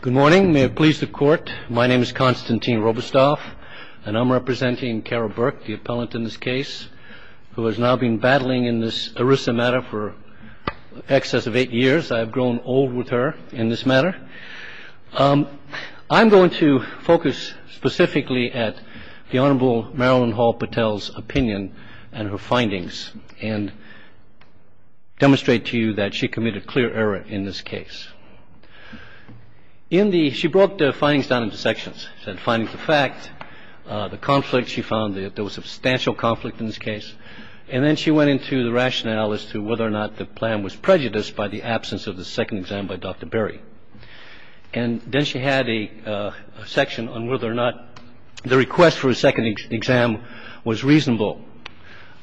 Good morning. May it please the Court, my name is Konstantin Robestov, and I'm representing Carol Burke, the appellant in this case, who has now been battling in this ERISA matter for excess of eight years. I have grown old with her in this matter. I'm going to focus specifically at the Honorable Marilyn Hall Patel's opinion and her findings and demonstrate to you that she committed clear error in this case. In the, she broke the findings down into sections, said findings of fact, the conflict she found, there was substantial conflict in this case, and then she went into the rationale as to whether or not the plan was prejudiced by the absence of the second exam by Dr. Berry. And then she had a section on whether or not the request for a second exam was reasonable,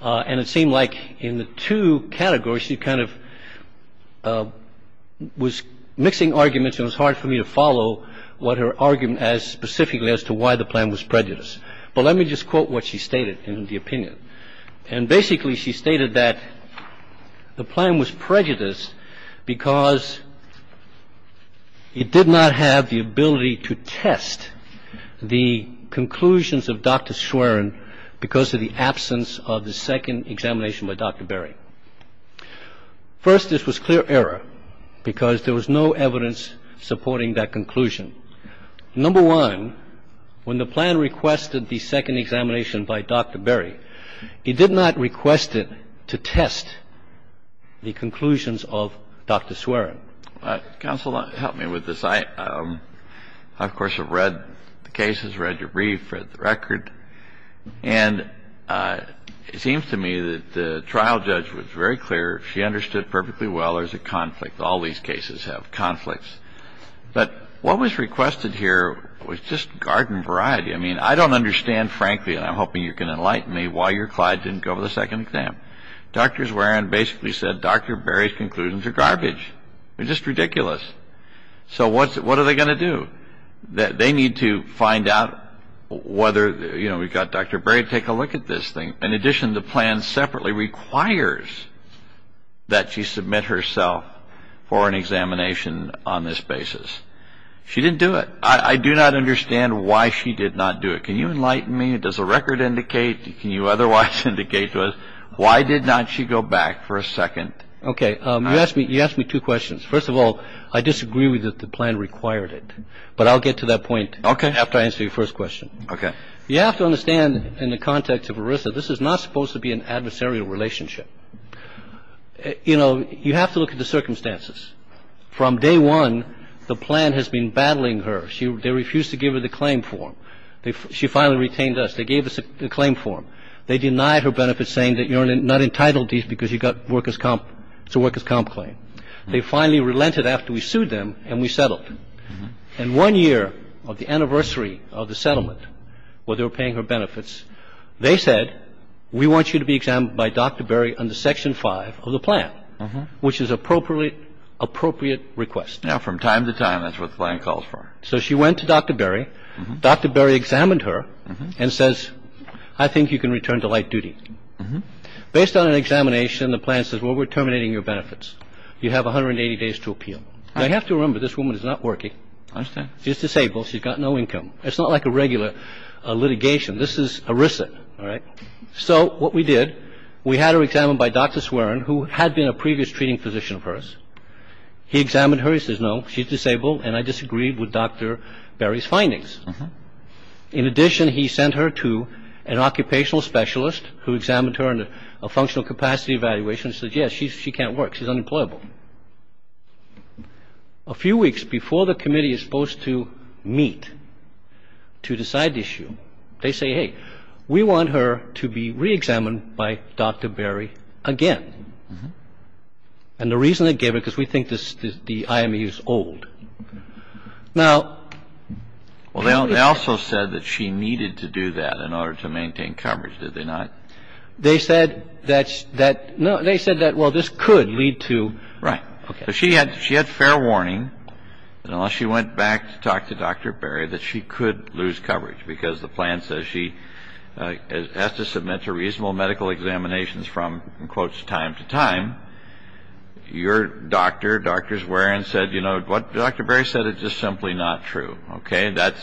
and it seemed like in the two categories she kind of was mixing arguments and it was hard for me to follow what her argument as specifically as to why the plan was prejudiced. But let me just quote what she stated in the opinion. And basically she stated that the plan was prejudiced because it did not have the ability to test the conclusions of Dr. Schwerin because of the absence of the second examination by Dr. Berry. First, this was clear error because there was no evidence supporting that conclusion. Number one, when the plan requested the second examination by Dr. Berry, he did not request it to test the conclusions of Dr. Schwerin. Counsel, help me with this. I, of course, have read the cases, read your brief, read the record, and it seems to me that the trial judge was very clear. She understood perfectly well there's a conflict. All these cases have conflicts. But what was requested here was just garden variety. I mean, I don't understand, frankly, and I'm hoping you can enlighten me why your client didn't go for the second exam. Dr. Schwerin basically said Dr. Berry's conclusions are garbage. They're just ridiculous. So what are they going to do? They need to find out whether, you know, we've got Dr. Berry to take a look at this thing. In addition, the plan separately requires that she submit herself for an examination on this basis. She didn't do it. I do not understand why she did not do it. Can you enlighten me? Does the record indicate? Can you otherwise indicate to us why did not she go back for a second? Okay. You asked me two questions. First of all, I disagree with you that the plan required it. But I'll get to that point after I answer your first question. Okay. You have to understand in the context of ERISA, this is not supposed to be an adversarial relationship. You know, you have to look at the circumstances. From day one, the plan has been battling her. They refused to give her the claim form. She finally retained us. They gave us the claim form. They denied her benefits, saying that you're not entitled to these because you've got workers' comp claim. They finally relented after we sued them, and we settled. And one year of the anniversary of the settlement where they were paying her benefits, they said, we want you to be examined by Dr. Berry under Section 5 of the plan, which is appropriate request. Now, from time to time, that's what the plan calls for. So she went to Dr. Berry. Dr. Berry examined her and says, I think you can return to light duty. Based on an examination, the plan says, well, we're terminating your benefits. You have 180 days to appeal. Now, you have to remember, this woman is not working. I understand. She's disabled. She's got no income. It's not like a regular litigation. This is ERISA. All right? So what we did, we had her examined by Dr. Swerin, who had been a previous treating physician of hers. He examined her. He says, no, she's disabled, and I disagreed with Dr. Berry's findings. In addition, he sent her to an occupational specialist who examined her in a functional capacity evaluation and said, yes, she can't work. She's unemployable. A few weeks before the committee is supposed to meet to decide the issue, they say, hey, we want her to be reexamined by Dr. Berry again. And the reason they gave it, because we think the IME is old. Now they also said that she needed to do that in order to maintain coverage, did they not? They said that's that. No, they said that. Well, this could lead to. Right. She had she had fair warning that unless she went back to talk to Dr. Berry, that she could lose coverage because the plan says she has to submit a reasonable medical examinations from, in quotes, time to time. Your doctor, Dr. Swerin, said, you know what? Dr. Berry said it's just simply not true. OK, that's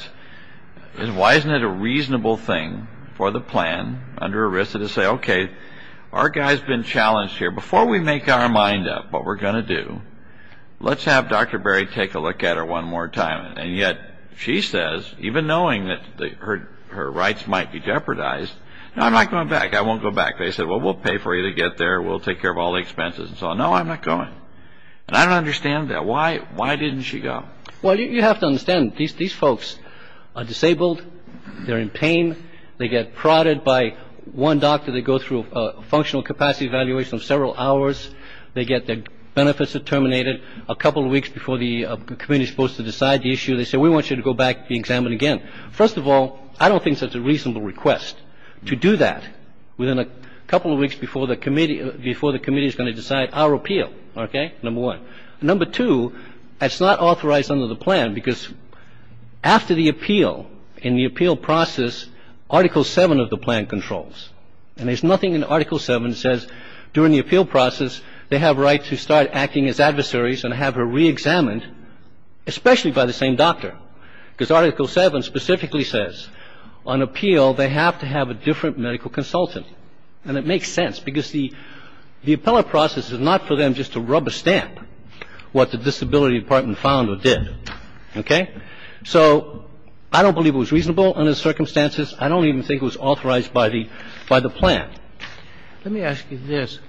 why isn't it a reasonable thing for the plan under arrest to say, OK, our guy's been challenged here. Before we make our mind up what we're going to do, let's have Dr. Berry take a look at her one more time. And yet she says, even knowing that her rights might be jeopardized, no, I'm not going back. I won't go back. They said, well, we'll pay for you to get there. We'll take care of all the expenses. So no, I'm not going. And I don't understand that. Why? Why didn't she go? Well, you have to understand these these folks are disabled. They're in pain. They get prodded by one doctor. They go through a functional capacity evaluation of several hours. They get their benefits terminated a couple of weeks before the committee is supposed to decide the issue. They say, we want you to go back, be examined again. First of all, I don't think that's a reasonable request to do that within a couple of weeks before the committee before the committee is going to decide our appeal. OK, number one. Number two, it's not authorized under the plan because after the appeal in the appeal process, Article seven of the plan controls and there's nothing in Article seven says during the appeal process they have right to start acting as adversaries and have her reexamined, especially by the same doctor, because Article seven specifically says on appeal they have to have a different medical consultant. And it makes sense because the the appellate process is not for them just to rub a stamp what the disability department found or did. OK, so I don't believe it was reasonable under the circumstances. I don't even think it was authorized by the by the plan. Let me ask you this.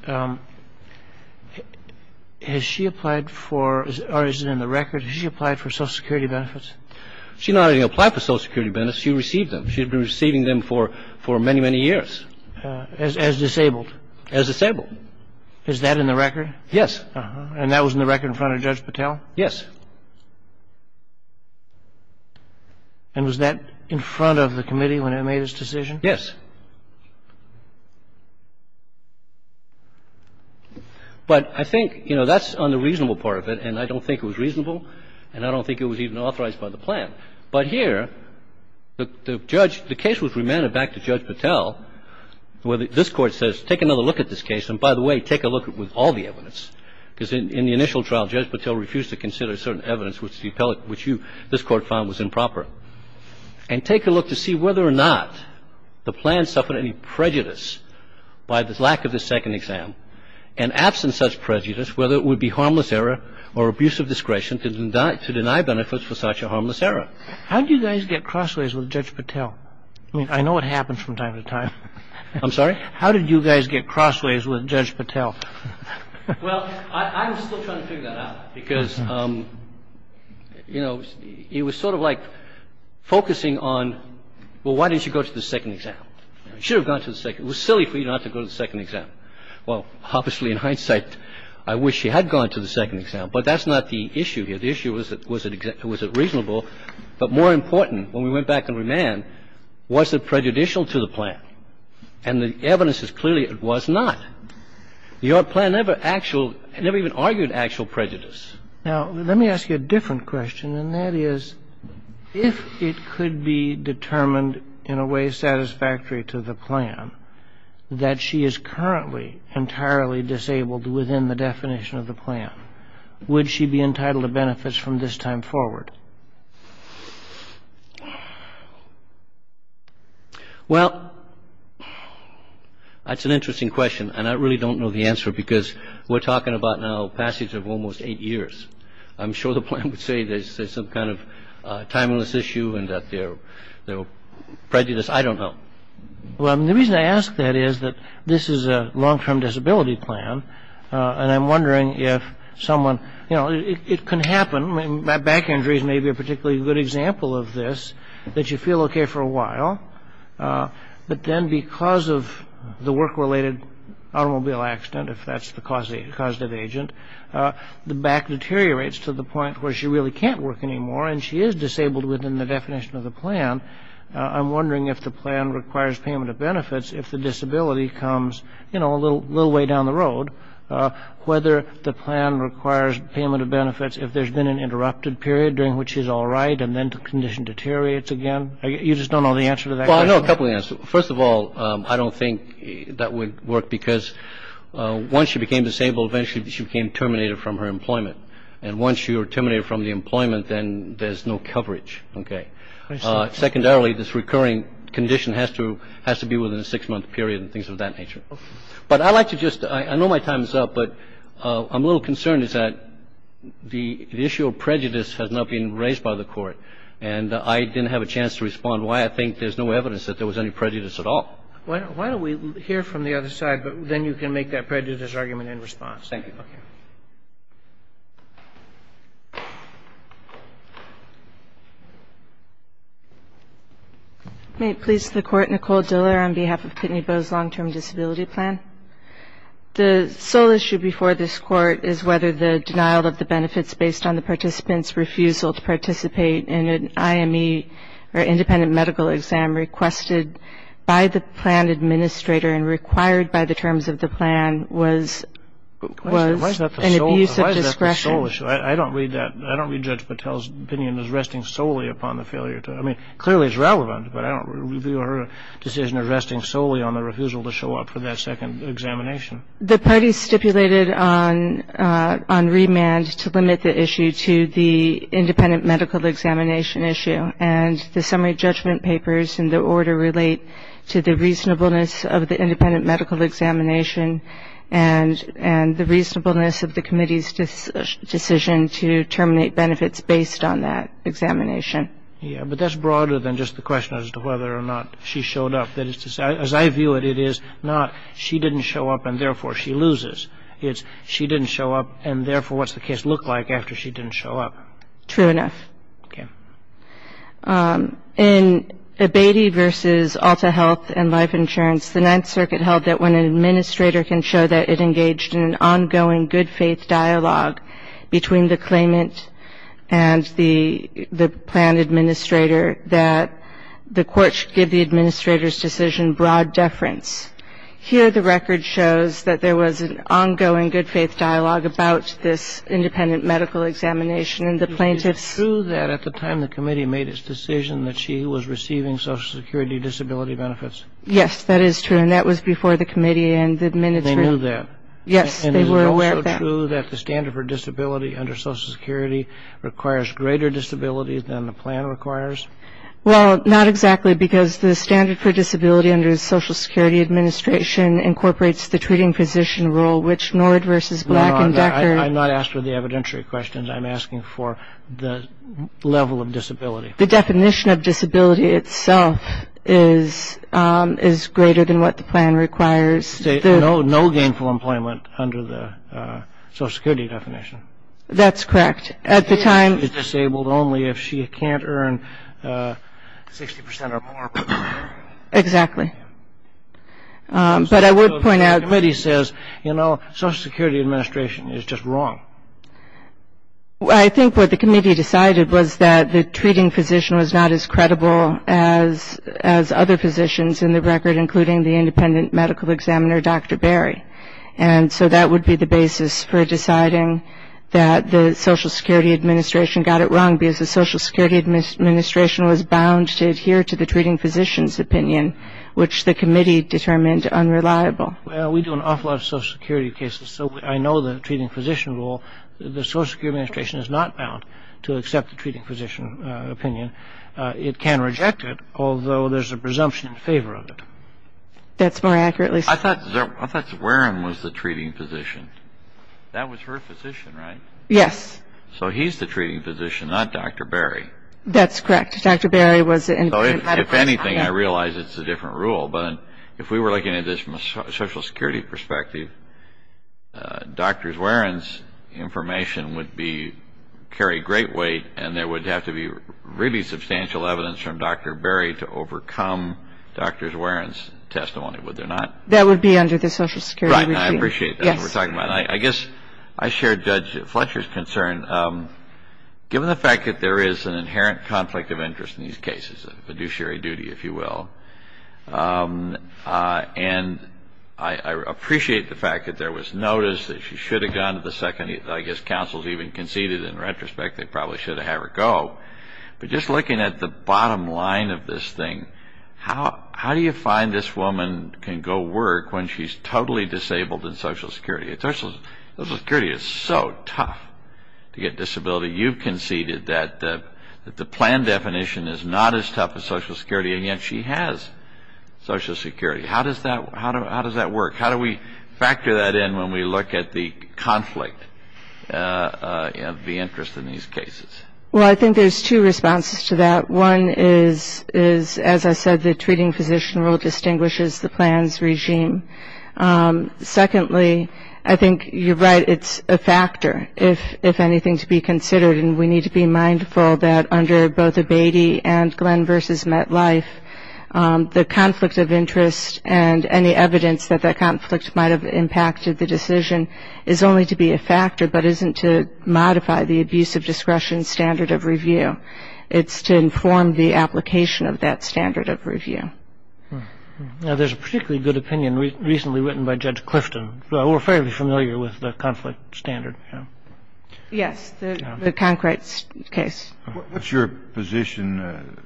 Has she applied for or is it in the record she applied for Social Security benefits? She not only applied for Social Security benefits, she received them. She had been receiving them for many, many years. As disabled? As disabled. Is that in the record? Yes. Uh-huh. And that was in the record in front of Judge Patel? Yes. And was that in front of the committee when it made its decision? Yes. But I think, you know, that's on the reasonable part of it, and I don't think it was reasonable and I don't think it was even authorized by the plan. But here, the judge the case was remanded back to Judge Patel where this Court says take another look at this case and, by the way, take a look with all the evidence, because in the initial trial Judge Patel refused to consider certain evidence which the appellate which you this Court found was improper. And take a look to see whether or not the plan suffered any prejudice by the lack of the second exam. And absent such prejudice, whether it would be harmless error or abuse of discretion to deny benefits for such a harmless error. How did you guys get crossways with Judge Patel? I mean, I know it happened from time to time. I'm sorry? How did you guys get crossways with Judge Patel? Well, I'm still trying to figure that out because, you know, it was sort of like focusing on, well, why didn't you go to the second exam? You should have gone to the second exam. It was silly for you not to go to the second exam. Well, obviously, in hindsight, I wish she had gone to the second exam, but that's not the issue here. The issue was, was it reasonable? But more important, when we went back and remanded, was it prejudicial to the plan? And the evidence is clearly it was not. The plan never actual – never even argued actual prejudice. Now, let me ask you a different question, and that is, if it could be determined in a way satisfactory to the plan that she is currently entirely disabled within the definition of the plan, would she be entitled to benefits from this time forward? Well, that's an interesting question, and I really don't know the answer because we're talking about now a passage of almost eight years. I'm sure the plan would say there's some kind of timeless issue and that there were prejudices. I don't know. Well, the reason I ask that is that this is a long-term disability plan, and I'm wondering if someone – you know, it can happen. Back injuries may be a particularly good example of this, that you feel okay for a while, but then because of the work-related automobile accident, if that's the causative agent, the back deteriorates to the point where she really can't work anymore and she is disabled within the definition of the plan, I'm wondering if the plan requires payment of benefits if the disability comes, you know, a little way down the road, whether the plan requires payment of benefits if there's been an interrupted period during which she's all right and then the condition deteriorates again. You just don't know the answer to that question? Well, I know a couple answers. First of all, I don't think that would work because once she became disabled, eventually she became terminated from her employment, and once she was terminated from the employment, then there's no coverage. Okay. Secondarily, this recurring condition has to be within a six-month period and things of that nature. But I like to just – I know my time is up, but I'm a little concerned is that the issue of prejudice has not been raised by the Court, and I didn't have a chance to respond why I think there's no evidence that there was any prejudice at all. Why don't we hear from the other side, but then you can make that prejudice argument in response. Thank you. Okay. May it please the Court, Nicole Diller on behalf of Kittney Bowes Long-Term Disability Plan. The sole issue before this Court is whether the denial of the benefits based on the participant's refusal to participate in an IME or independent medical exam requested by the plan administrator and required by the terms of the plan was an abuse of discretion. Why is that the sole issue? I don't read Judge Patel's opinion as resting solely upon the failure to – I mean, clearly it's relevant, but I don't review her decision of resting solely on the refusal to show up for that second examination. The party stipulated on remand to limit the issue to the independent medical examination issue, and the summary judgment papers in the order relate to the reasonableness of the independent medical examination and the reasonableness of the committee's decision to terminate benefits based on that examination. Yeah, but that's broader than just the question as to whether or not she showed up. As I view it, it is not she didn't show up and therefore she loses. It's she didn't show up and therefore what's the case look like after she didn't show up? True enough. Okay. In Abatey v. Alta Health and Life Insurance, the Ninth Circuit held that when an administrator can show that it engaged in an ongoing good-faith dialogue between the claimant and the plan administrator, that the court should give the administrator's decision broad deference. Here, the record shows that there was an ongoing good-faith dialogue about this independent medical examination and the plaintiff's – Yes, that is true, and that was before the committee and the administrator. They knew that? Yes, they were aware of that. And is it also true that the standard for disability under Social Security requires greater disability than the plan requires? Well, not exactly, because the standard for disability under the Social Security Administration incorporates the treating physician rule, which Nord v. Black and Decker – No, no, I'm not asking for the evidentiary questions. I'm asking for the level of disability. The definition of disability itself is greater than what the plan requires. No gainful employment under the Social Security definition? That's correct. At the time – She is disabled only if she can't earn 60% or more. Exactly. But I would point out – So the committee says, you know, Social Security Administration is just wrong. I think what the committee decided was that the treating physician was not as credible as other physicians in the record, including the independent medical examiner, Dr. Berry. And so that would be the basis for deciding that the Social Security Administration got it wrong, because the Social Security Administration was bound to adhere to the treating physician's opinion, which the committee determined unreliable. Well, we do an awful lot of Social Security cases, so I know the treating physician rule. The Social Security Administration is not bound to accept the treating physician opinion. It can reject it, although there's a presumption in favor of it. That's more accurately said. I thought Zerwan was the treating physician. That was her physician, right? Yes. So he's the treating physician, not Dr. Berry. That's correct. Dr. Berry was the independent medical examiner. If anything, I realize it's a different rule. But if we were looking at this from a Social Security perspective, Dr. Zerwan's information would carry great weight, and there would have to be really substantial evidence from Dr. Berry to overcome Dr. Zerwan's testimony. Would there not? That would be under the Social Security regime. I appreciate that. I guess I share Judge Fletcher's concern. Given the fact that there is an inherent conflict of interest in these cases, a fiduciary duty, if you will, and I appreciate the fact that there was notice that she should have gone to the second, I guess counsels even conceded in retrospect they probably should have had her go. But just looking at the bottom line of this thing, how do you find this woman can go work when she's totally disabled in Social Security? Social Security is so tough to get disability. You conceded that the plan definition is not as tough as Social Security, and yet she has Social Security. How does that work? How do we factor that in when we look at the conflict of the interest in these cases? Well, I think there's two responses to that. One is, as I said, the treating physician rule distinguishes the plan's regime. Secondly, I think you're right. It's a factor, if anything, to be considered. And we need to be mindful that under both Abatey and Glenn v. MetLife, the conflict of interest and any evidence that that conflict might have impacted the decision is only to be a factor but isn't to modify the abuse of discretion standard of review. Now, there's a particularly good opinion recently written by Judge Clifton. We're fairly familiar with the conflict standard. Yes, the Concrete case. What's your position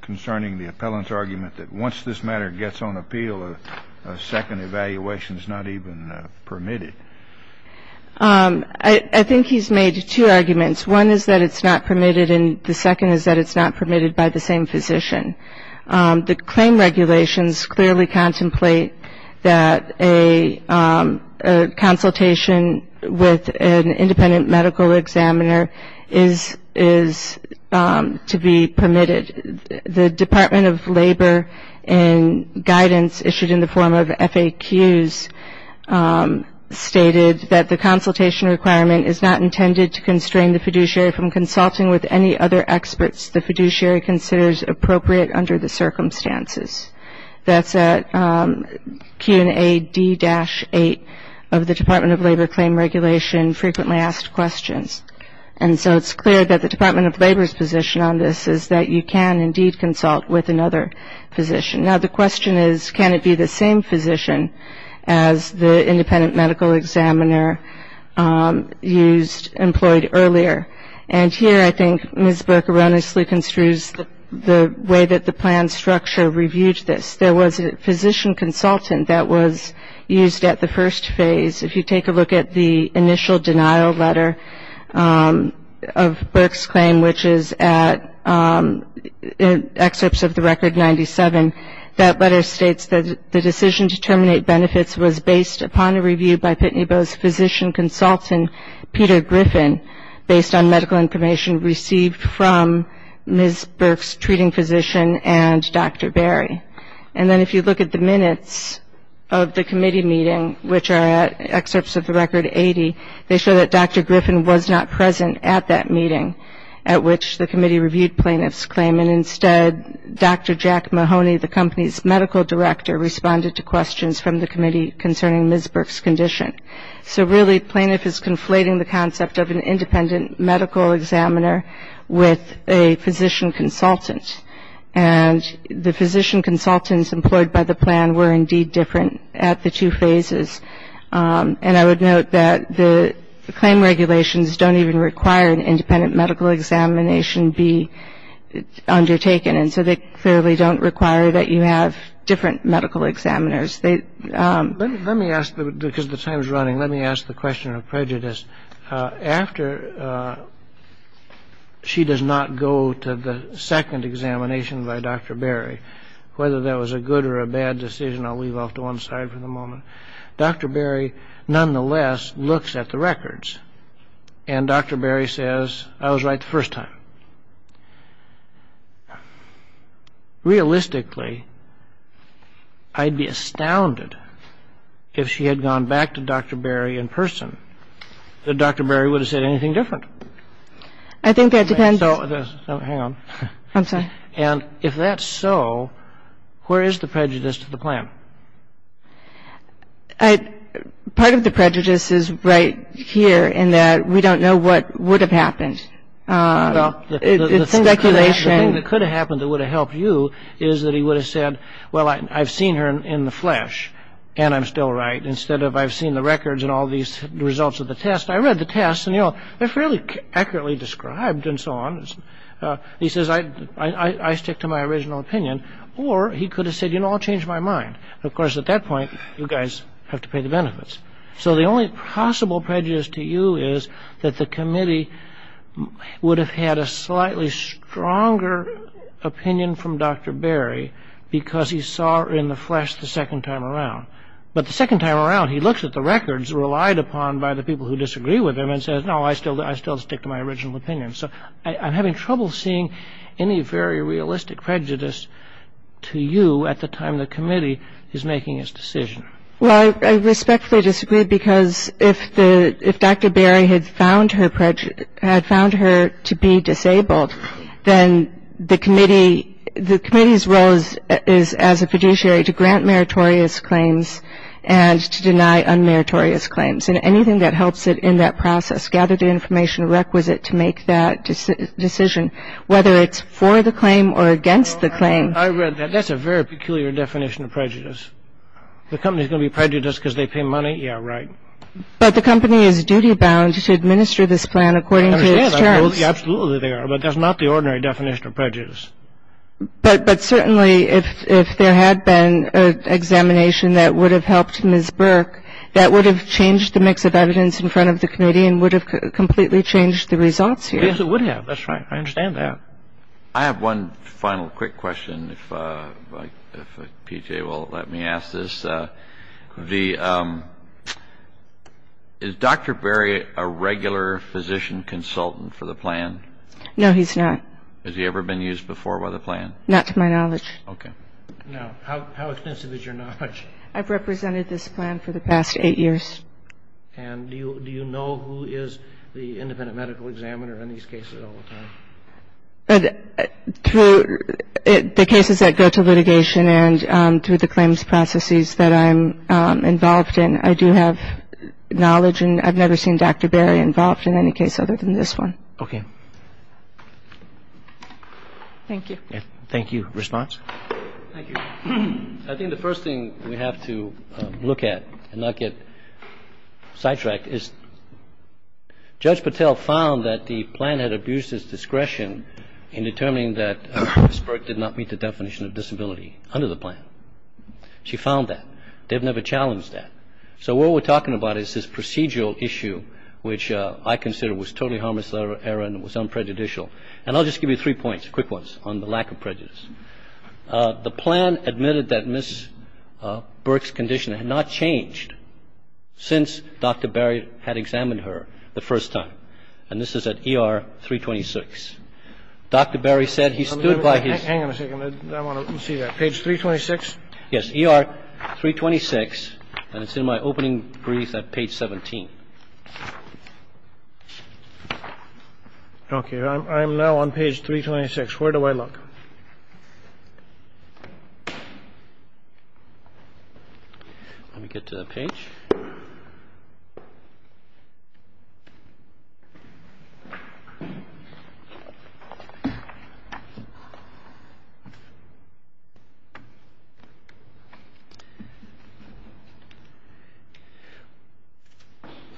concerning the appellant's argument that once this matter gets on appeal, a second evaluation is not even permitted? I think he's made two arguments. One is that it's not permitted, and the second is that it's not permitted by the same physician. The claim regulations clearly contemplate that a consultation with an independent medical examiner is to be permitted. The Department of Labor, in guidance issued in the form of FAQs, stated that the consultation requirement is not intended to constrain the fiduciary from consulting with any other experts. The fiduciary considers appropriate under the circumstances. That's at Q&A D-8 of the Department of Labor Claim Regulation Frequently Asked Questions. And so it's clear that the Department of Labor's position on this is that you can indeed consult with another physician. Now, the question is, can it be the same physician as the independent medical examiner used, employed earlier? And here I think Ms. Burke erroneously construes the way that the plan structure reviewed this. There was a physician consultant that was used at the first phase. If you take a look at the initial denial letter of Burke's claim, which is at excerpts of the Record 97, that letter states that the decision to terminate benefits was based upon a review by Pitney Bowe's physician consultant, Peter Griffin, based on medical information received from Ms. Burke's treating physician and Dr. Berry. And then if you look at the minutes of the committee meeting, which are at excerpts of the Record 80, they show that Dr. Griffin was not present at that meeting at which the committee reviewed plaintiff's claim, and instead Dr. Jack Mahoney, the company's medical director, responded to questions from the committee concerning Ms. Burke's condition. So really plaintiff is conflating the concept of an independent medical examiner with a physician consultant. And the physician consultants employed by the plan were indeed different at the two phases. And I would note that the claim regulations don't even require an independent medical examination be undertaken, and so they clearly don't require that you have different medical examiners. Let me ask, because the time is running, let me ask the question of prejudice. After she does not go to the second examination by Dr. Berry, whether that was a good or a bad decision, I'll leave off to one side for the moment, Dr. Berry nonetheless looks at the records, and Dr. Berry says, I was right the first time. Realistically, I'd be astounded if she had gone back to Dr. Berry in person, that Dr. Berry would have said anything different. I think that depends. Hang on. I'm sorry. And if that's so, where is the prejudice to the plan? Part of the prejudice is right here in that we don't know what would have happened. It's speculation. The thing that could have happened that would have helped you is that he would have said, well, I've seen her in the flesh, and I'm still right. Instead of I've seen the records and all these results of the test, I read the test, and they're fairly accurately described and so on. He says, I stick to my original opinion. Or he could have said, you know, I'll change my mind. Of course, at that point, you guys have to pay the benefits. So the only possible prejudice to you is that the committee would have had a slightly stronger opinion from Dr. Berry because he saw her in the flesh the second time around. But the second time around, he looks at the records relied upon by the people who disagree with him and says, no, I still stick to my original opinion. So I'm having trouble seeing any very realistic prejudice to you at the time the committee is making its decision. Well, I respectfully disagree because if Dr. Berry had found her to be disabled, then the committee's role is as a fiduciary to grant meritorious claims and to deny unmeritorious claims. And anything that helps it in that process, gather the information requisite to make that decision, whether it's for the claim or against the claim. I read that. That's a very peculiar definition of prejudice. The company's going to be prejudiced because they pay money? Yeah, right. But the company is duty-bound to administer this plan according to its terms. Absolutely, they are. But that's not the ordinary definition of prejudice. But certainly if there had been an examination that would have helped Ms. Burke, that would have changed the mix of evidence in front of the committee and would have completely changed the results here. Yes, it would have. That's right. I understand that. I have one final quick question, if PJ will let me ask this. Is Dr. Berry a regular physician consultant for the plan? No, he's not. Has he ever been used before by the plan? Not to my knowledge. Okay. Now, how extensive is your knowledge? I've represented this plan for the past eight years. And do you know who is the independent medical examiner in these cases all the time? Through the cases that go to litigation and through the claims processes that I'm involved in, I do have knowledge, and I've never seen Dr. Berry involved in any case other than this one. Okay. Thank you. Thank you. Response? Thank you. I think the first thing we have to look at and not get sidetracked is Judge Patel found that the plan had abused its discretion in determining that Ms. Burke did not meet the definition of disability under the plan. She found that. They've never challenged that. So what we're talking about is this procedural issue, which I consider was totally harmless, error, and was unprejudicial. And I'll just give you three points, quick ones, on the lack of prejudice. The plan admitted that Ms. Burke's condition had not changed since Dr. Berry had examined her the first time. And this is at ER 326. Dr. Berry said he stood by his ---- Hang on a second. I want to see that. Page 326? Yes. This is ER 326, and it's in my opening brief at page 17. Okay. I'm now on page 326. Where do I look? Let me get to that page.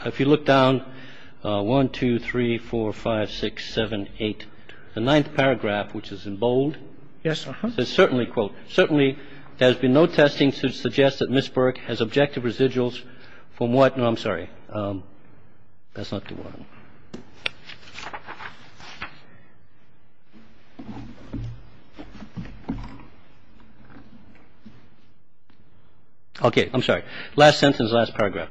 If you look down, 1, 2, 3, 4, 5, 6, 7, 8, the ninth paragraph, which is in bold, says, certainly, quote, Okay. I'm sorry. Last sentence, last paragraph.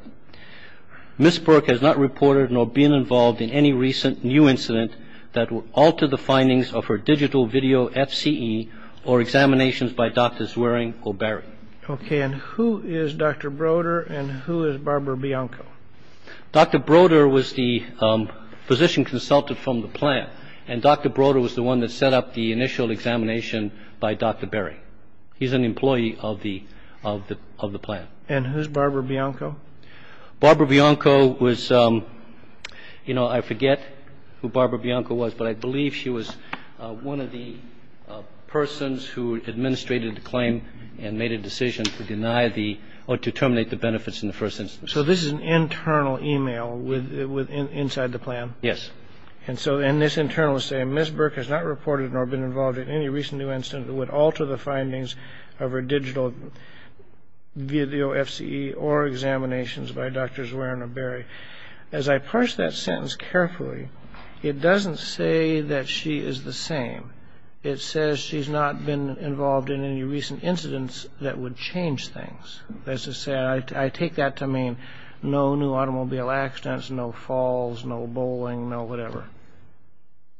Ms. Burke has not reported nor been involved in any recent new incident that will alter the findings of her digital video FCE or examinations by Drs. Zwering or Berry. Okay. And who is Dr. Broder, and who is Barbara Bianco? Dr. Broder was the physician consultant from the plant, and Dr. Broder was the one that set up the initial examination by Dr. Berry. He's an employee of the plant. And who's Barbara Bianco? Barbara Bianco was, you know, I forget who Barbara Bianco was, but I believe she was one of the persons who administrated the claim and made a decision to deny the or to terminate the benefits in the first instance. So this is an internal email inside the plant? Yes. And this internal is saying, Ms. Burke has not reported nor been involved in any recent new incident that would alter the findings of her digital video FCE or examinations by Drs. Zwering or Berry. As I parse that sentence carefully, it doesn't say that she is the same. It says she's not been involved in any recent incidents that would change things. I take that to mean no new automobile accidents, no falls, no bowling, no whatever.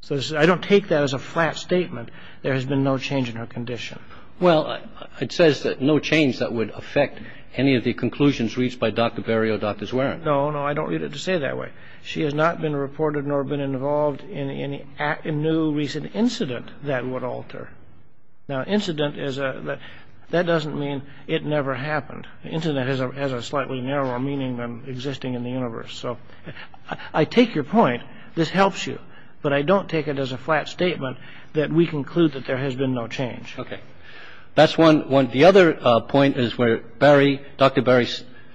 So I don't take that as a flat statement. There has been no change in her condition. Well, it says no change that would affect any of the conclusions reached by Dr. Berry or Dr. Zwering. No, no, I don't read it to say that way. She has not been reported nor been involved in any new recent incident that would alter. Now, incident is that that doesn't mean it never happened. Incident has a slightly narrower meaning than existing in the universe. So I take your point. This helps you. But I don't take it as a flat statement that we conclude that there has been no change. OK. That's one. The other point is where Barry, Dr. Berry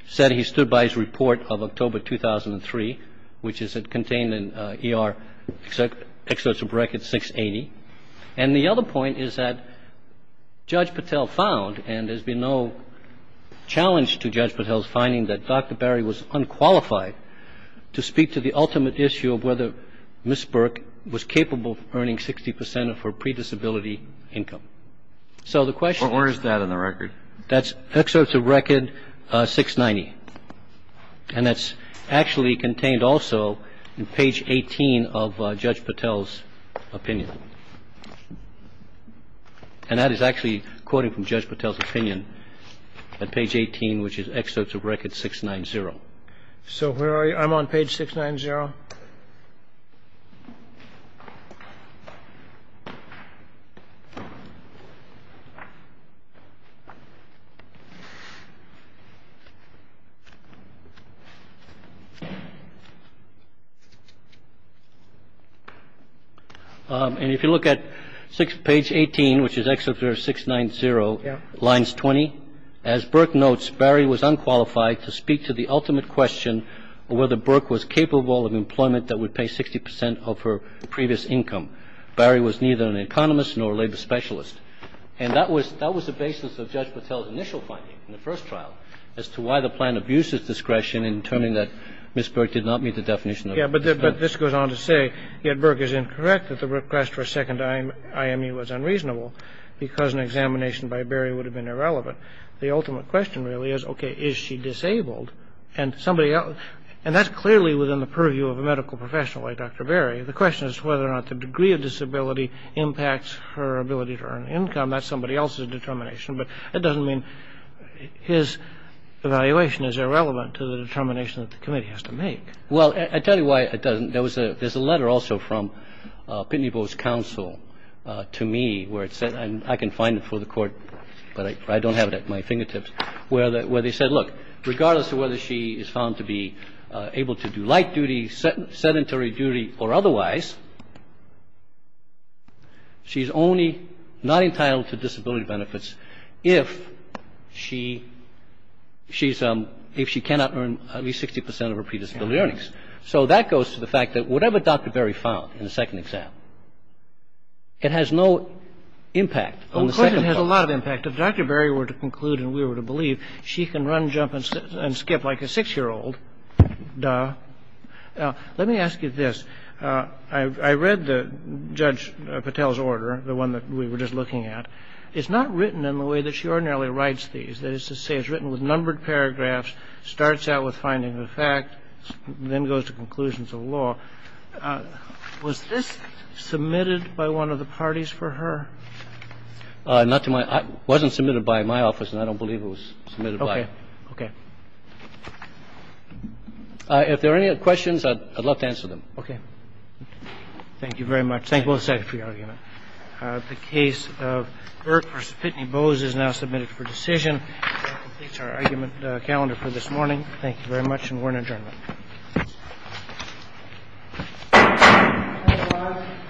said he stood by his report of October 2003, which is contained in ER excerpts of record 680. And the other point is that Judge Patel found, and there's been no challenge to Judge Patel's finding that Dr. Berry was unqualified to speak to the ultimate issue of whether Ms. Burke was capable of earning 60 percent of her predisability income. So the question is. Where is that in the record? That's excerpts of record 690. And that's actually contained also in page 18 of Judge Patel's opinion. And that is actually quoting from Judge Patel's opinion at page 18, which is excerpts of record 690. So where are you? I'm on page 690. And if you look at page 18, which is excerpt of 690, lines 20, as Burke notes, Barry was unqualified to speak to the ultimate question of whether Burke was capable of earning 60 percent of her predisability income. And that was the basis of Judge Patel's initial finding in the first trial, as to why the plan abuses discretion in determining that Ms. Burke did not meet the definition of predisability. Yeah. But this goes on to say, yet Burke is incorrect that the request for a second IMU was unreasonable because an examination by Berry would have been irrelevant. The ultimate question really is, okay, is she disabled? And that's clearly within the purview of Judge Patel. Well, the question is whether or not the degree of disability impacts her ability to earn income. That's somebody else's determination. But that doesn't mean his evaluation is irrelevant to the determination that the committee has to make. Well, I tell you why it doesn't. There's a letter also from Pitney Bowe's counsel to me where it said, and I can find it for the Court, but I don't have it at my fingertips, where they said, look, regardless of whether she is found to be able to do light duty, sedentary duty, or otherwise, she's only not entitled to disability benefits if she cannot earn at least 60 percent of her predisability earnings. So that goes to the fact that whatever Dr. Berry found in the second exam, it has no impact on the second one. Well, of course it has a lot of impact. If Dr. Berry were to conclude and we were to believe, she can run, jump, and skip like a six-year-old. Duh. Let me ask you this. I read Judge Patel's order, the one that we were just looking at. It's not written in the way that she ordinarily writes these. That is to say, it's written with numbered paragraphs, starts out with finding the fact, then goes to conclusions of law. Was this submitted by one of the parties for her? Not to my – it wasn't submitted by my office, and I don't believe it was submitted by her. Okay. If there are any questions, I'd love to answer them. Okay. Thank you very much. Thank you both, Secretary. The case of Burke v. Pitney Bowes is now submitted for decision. That completes our argument calendar for this morning. Thank you very much, and we're in adjournment. Thank you very much.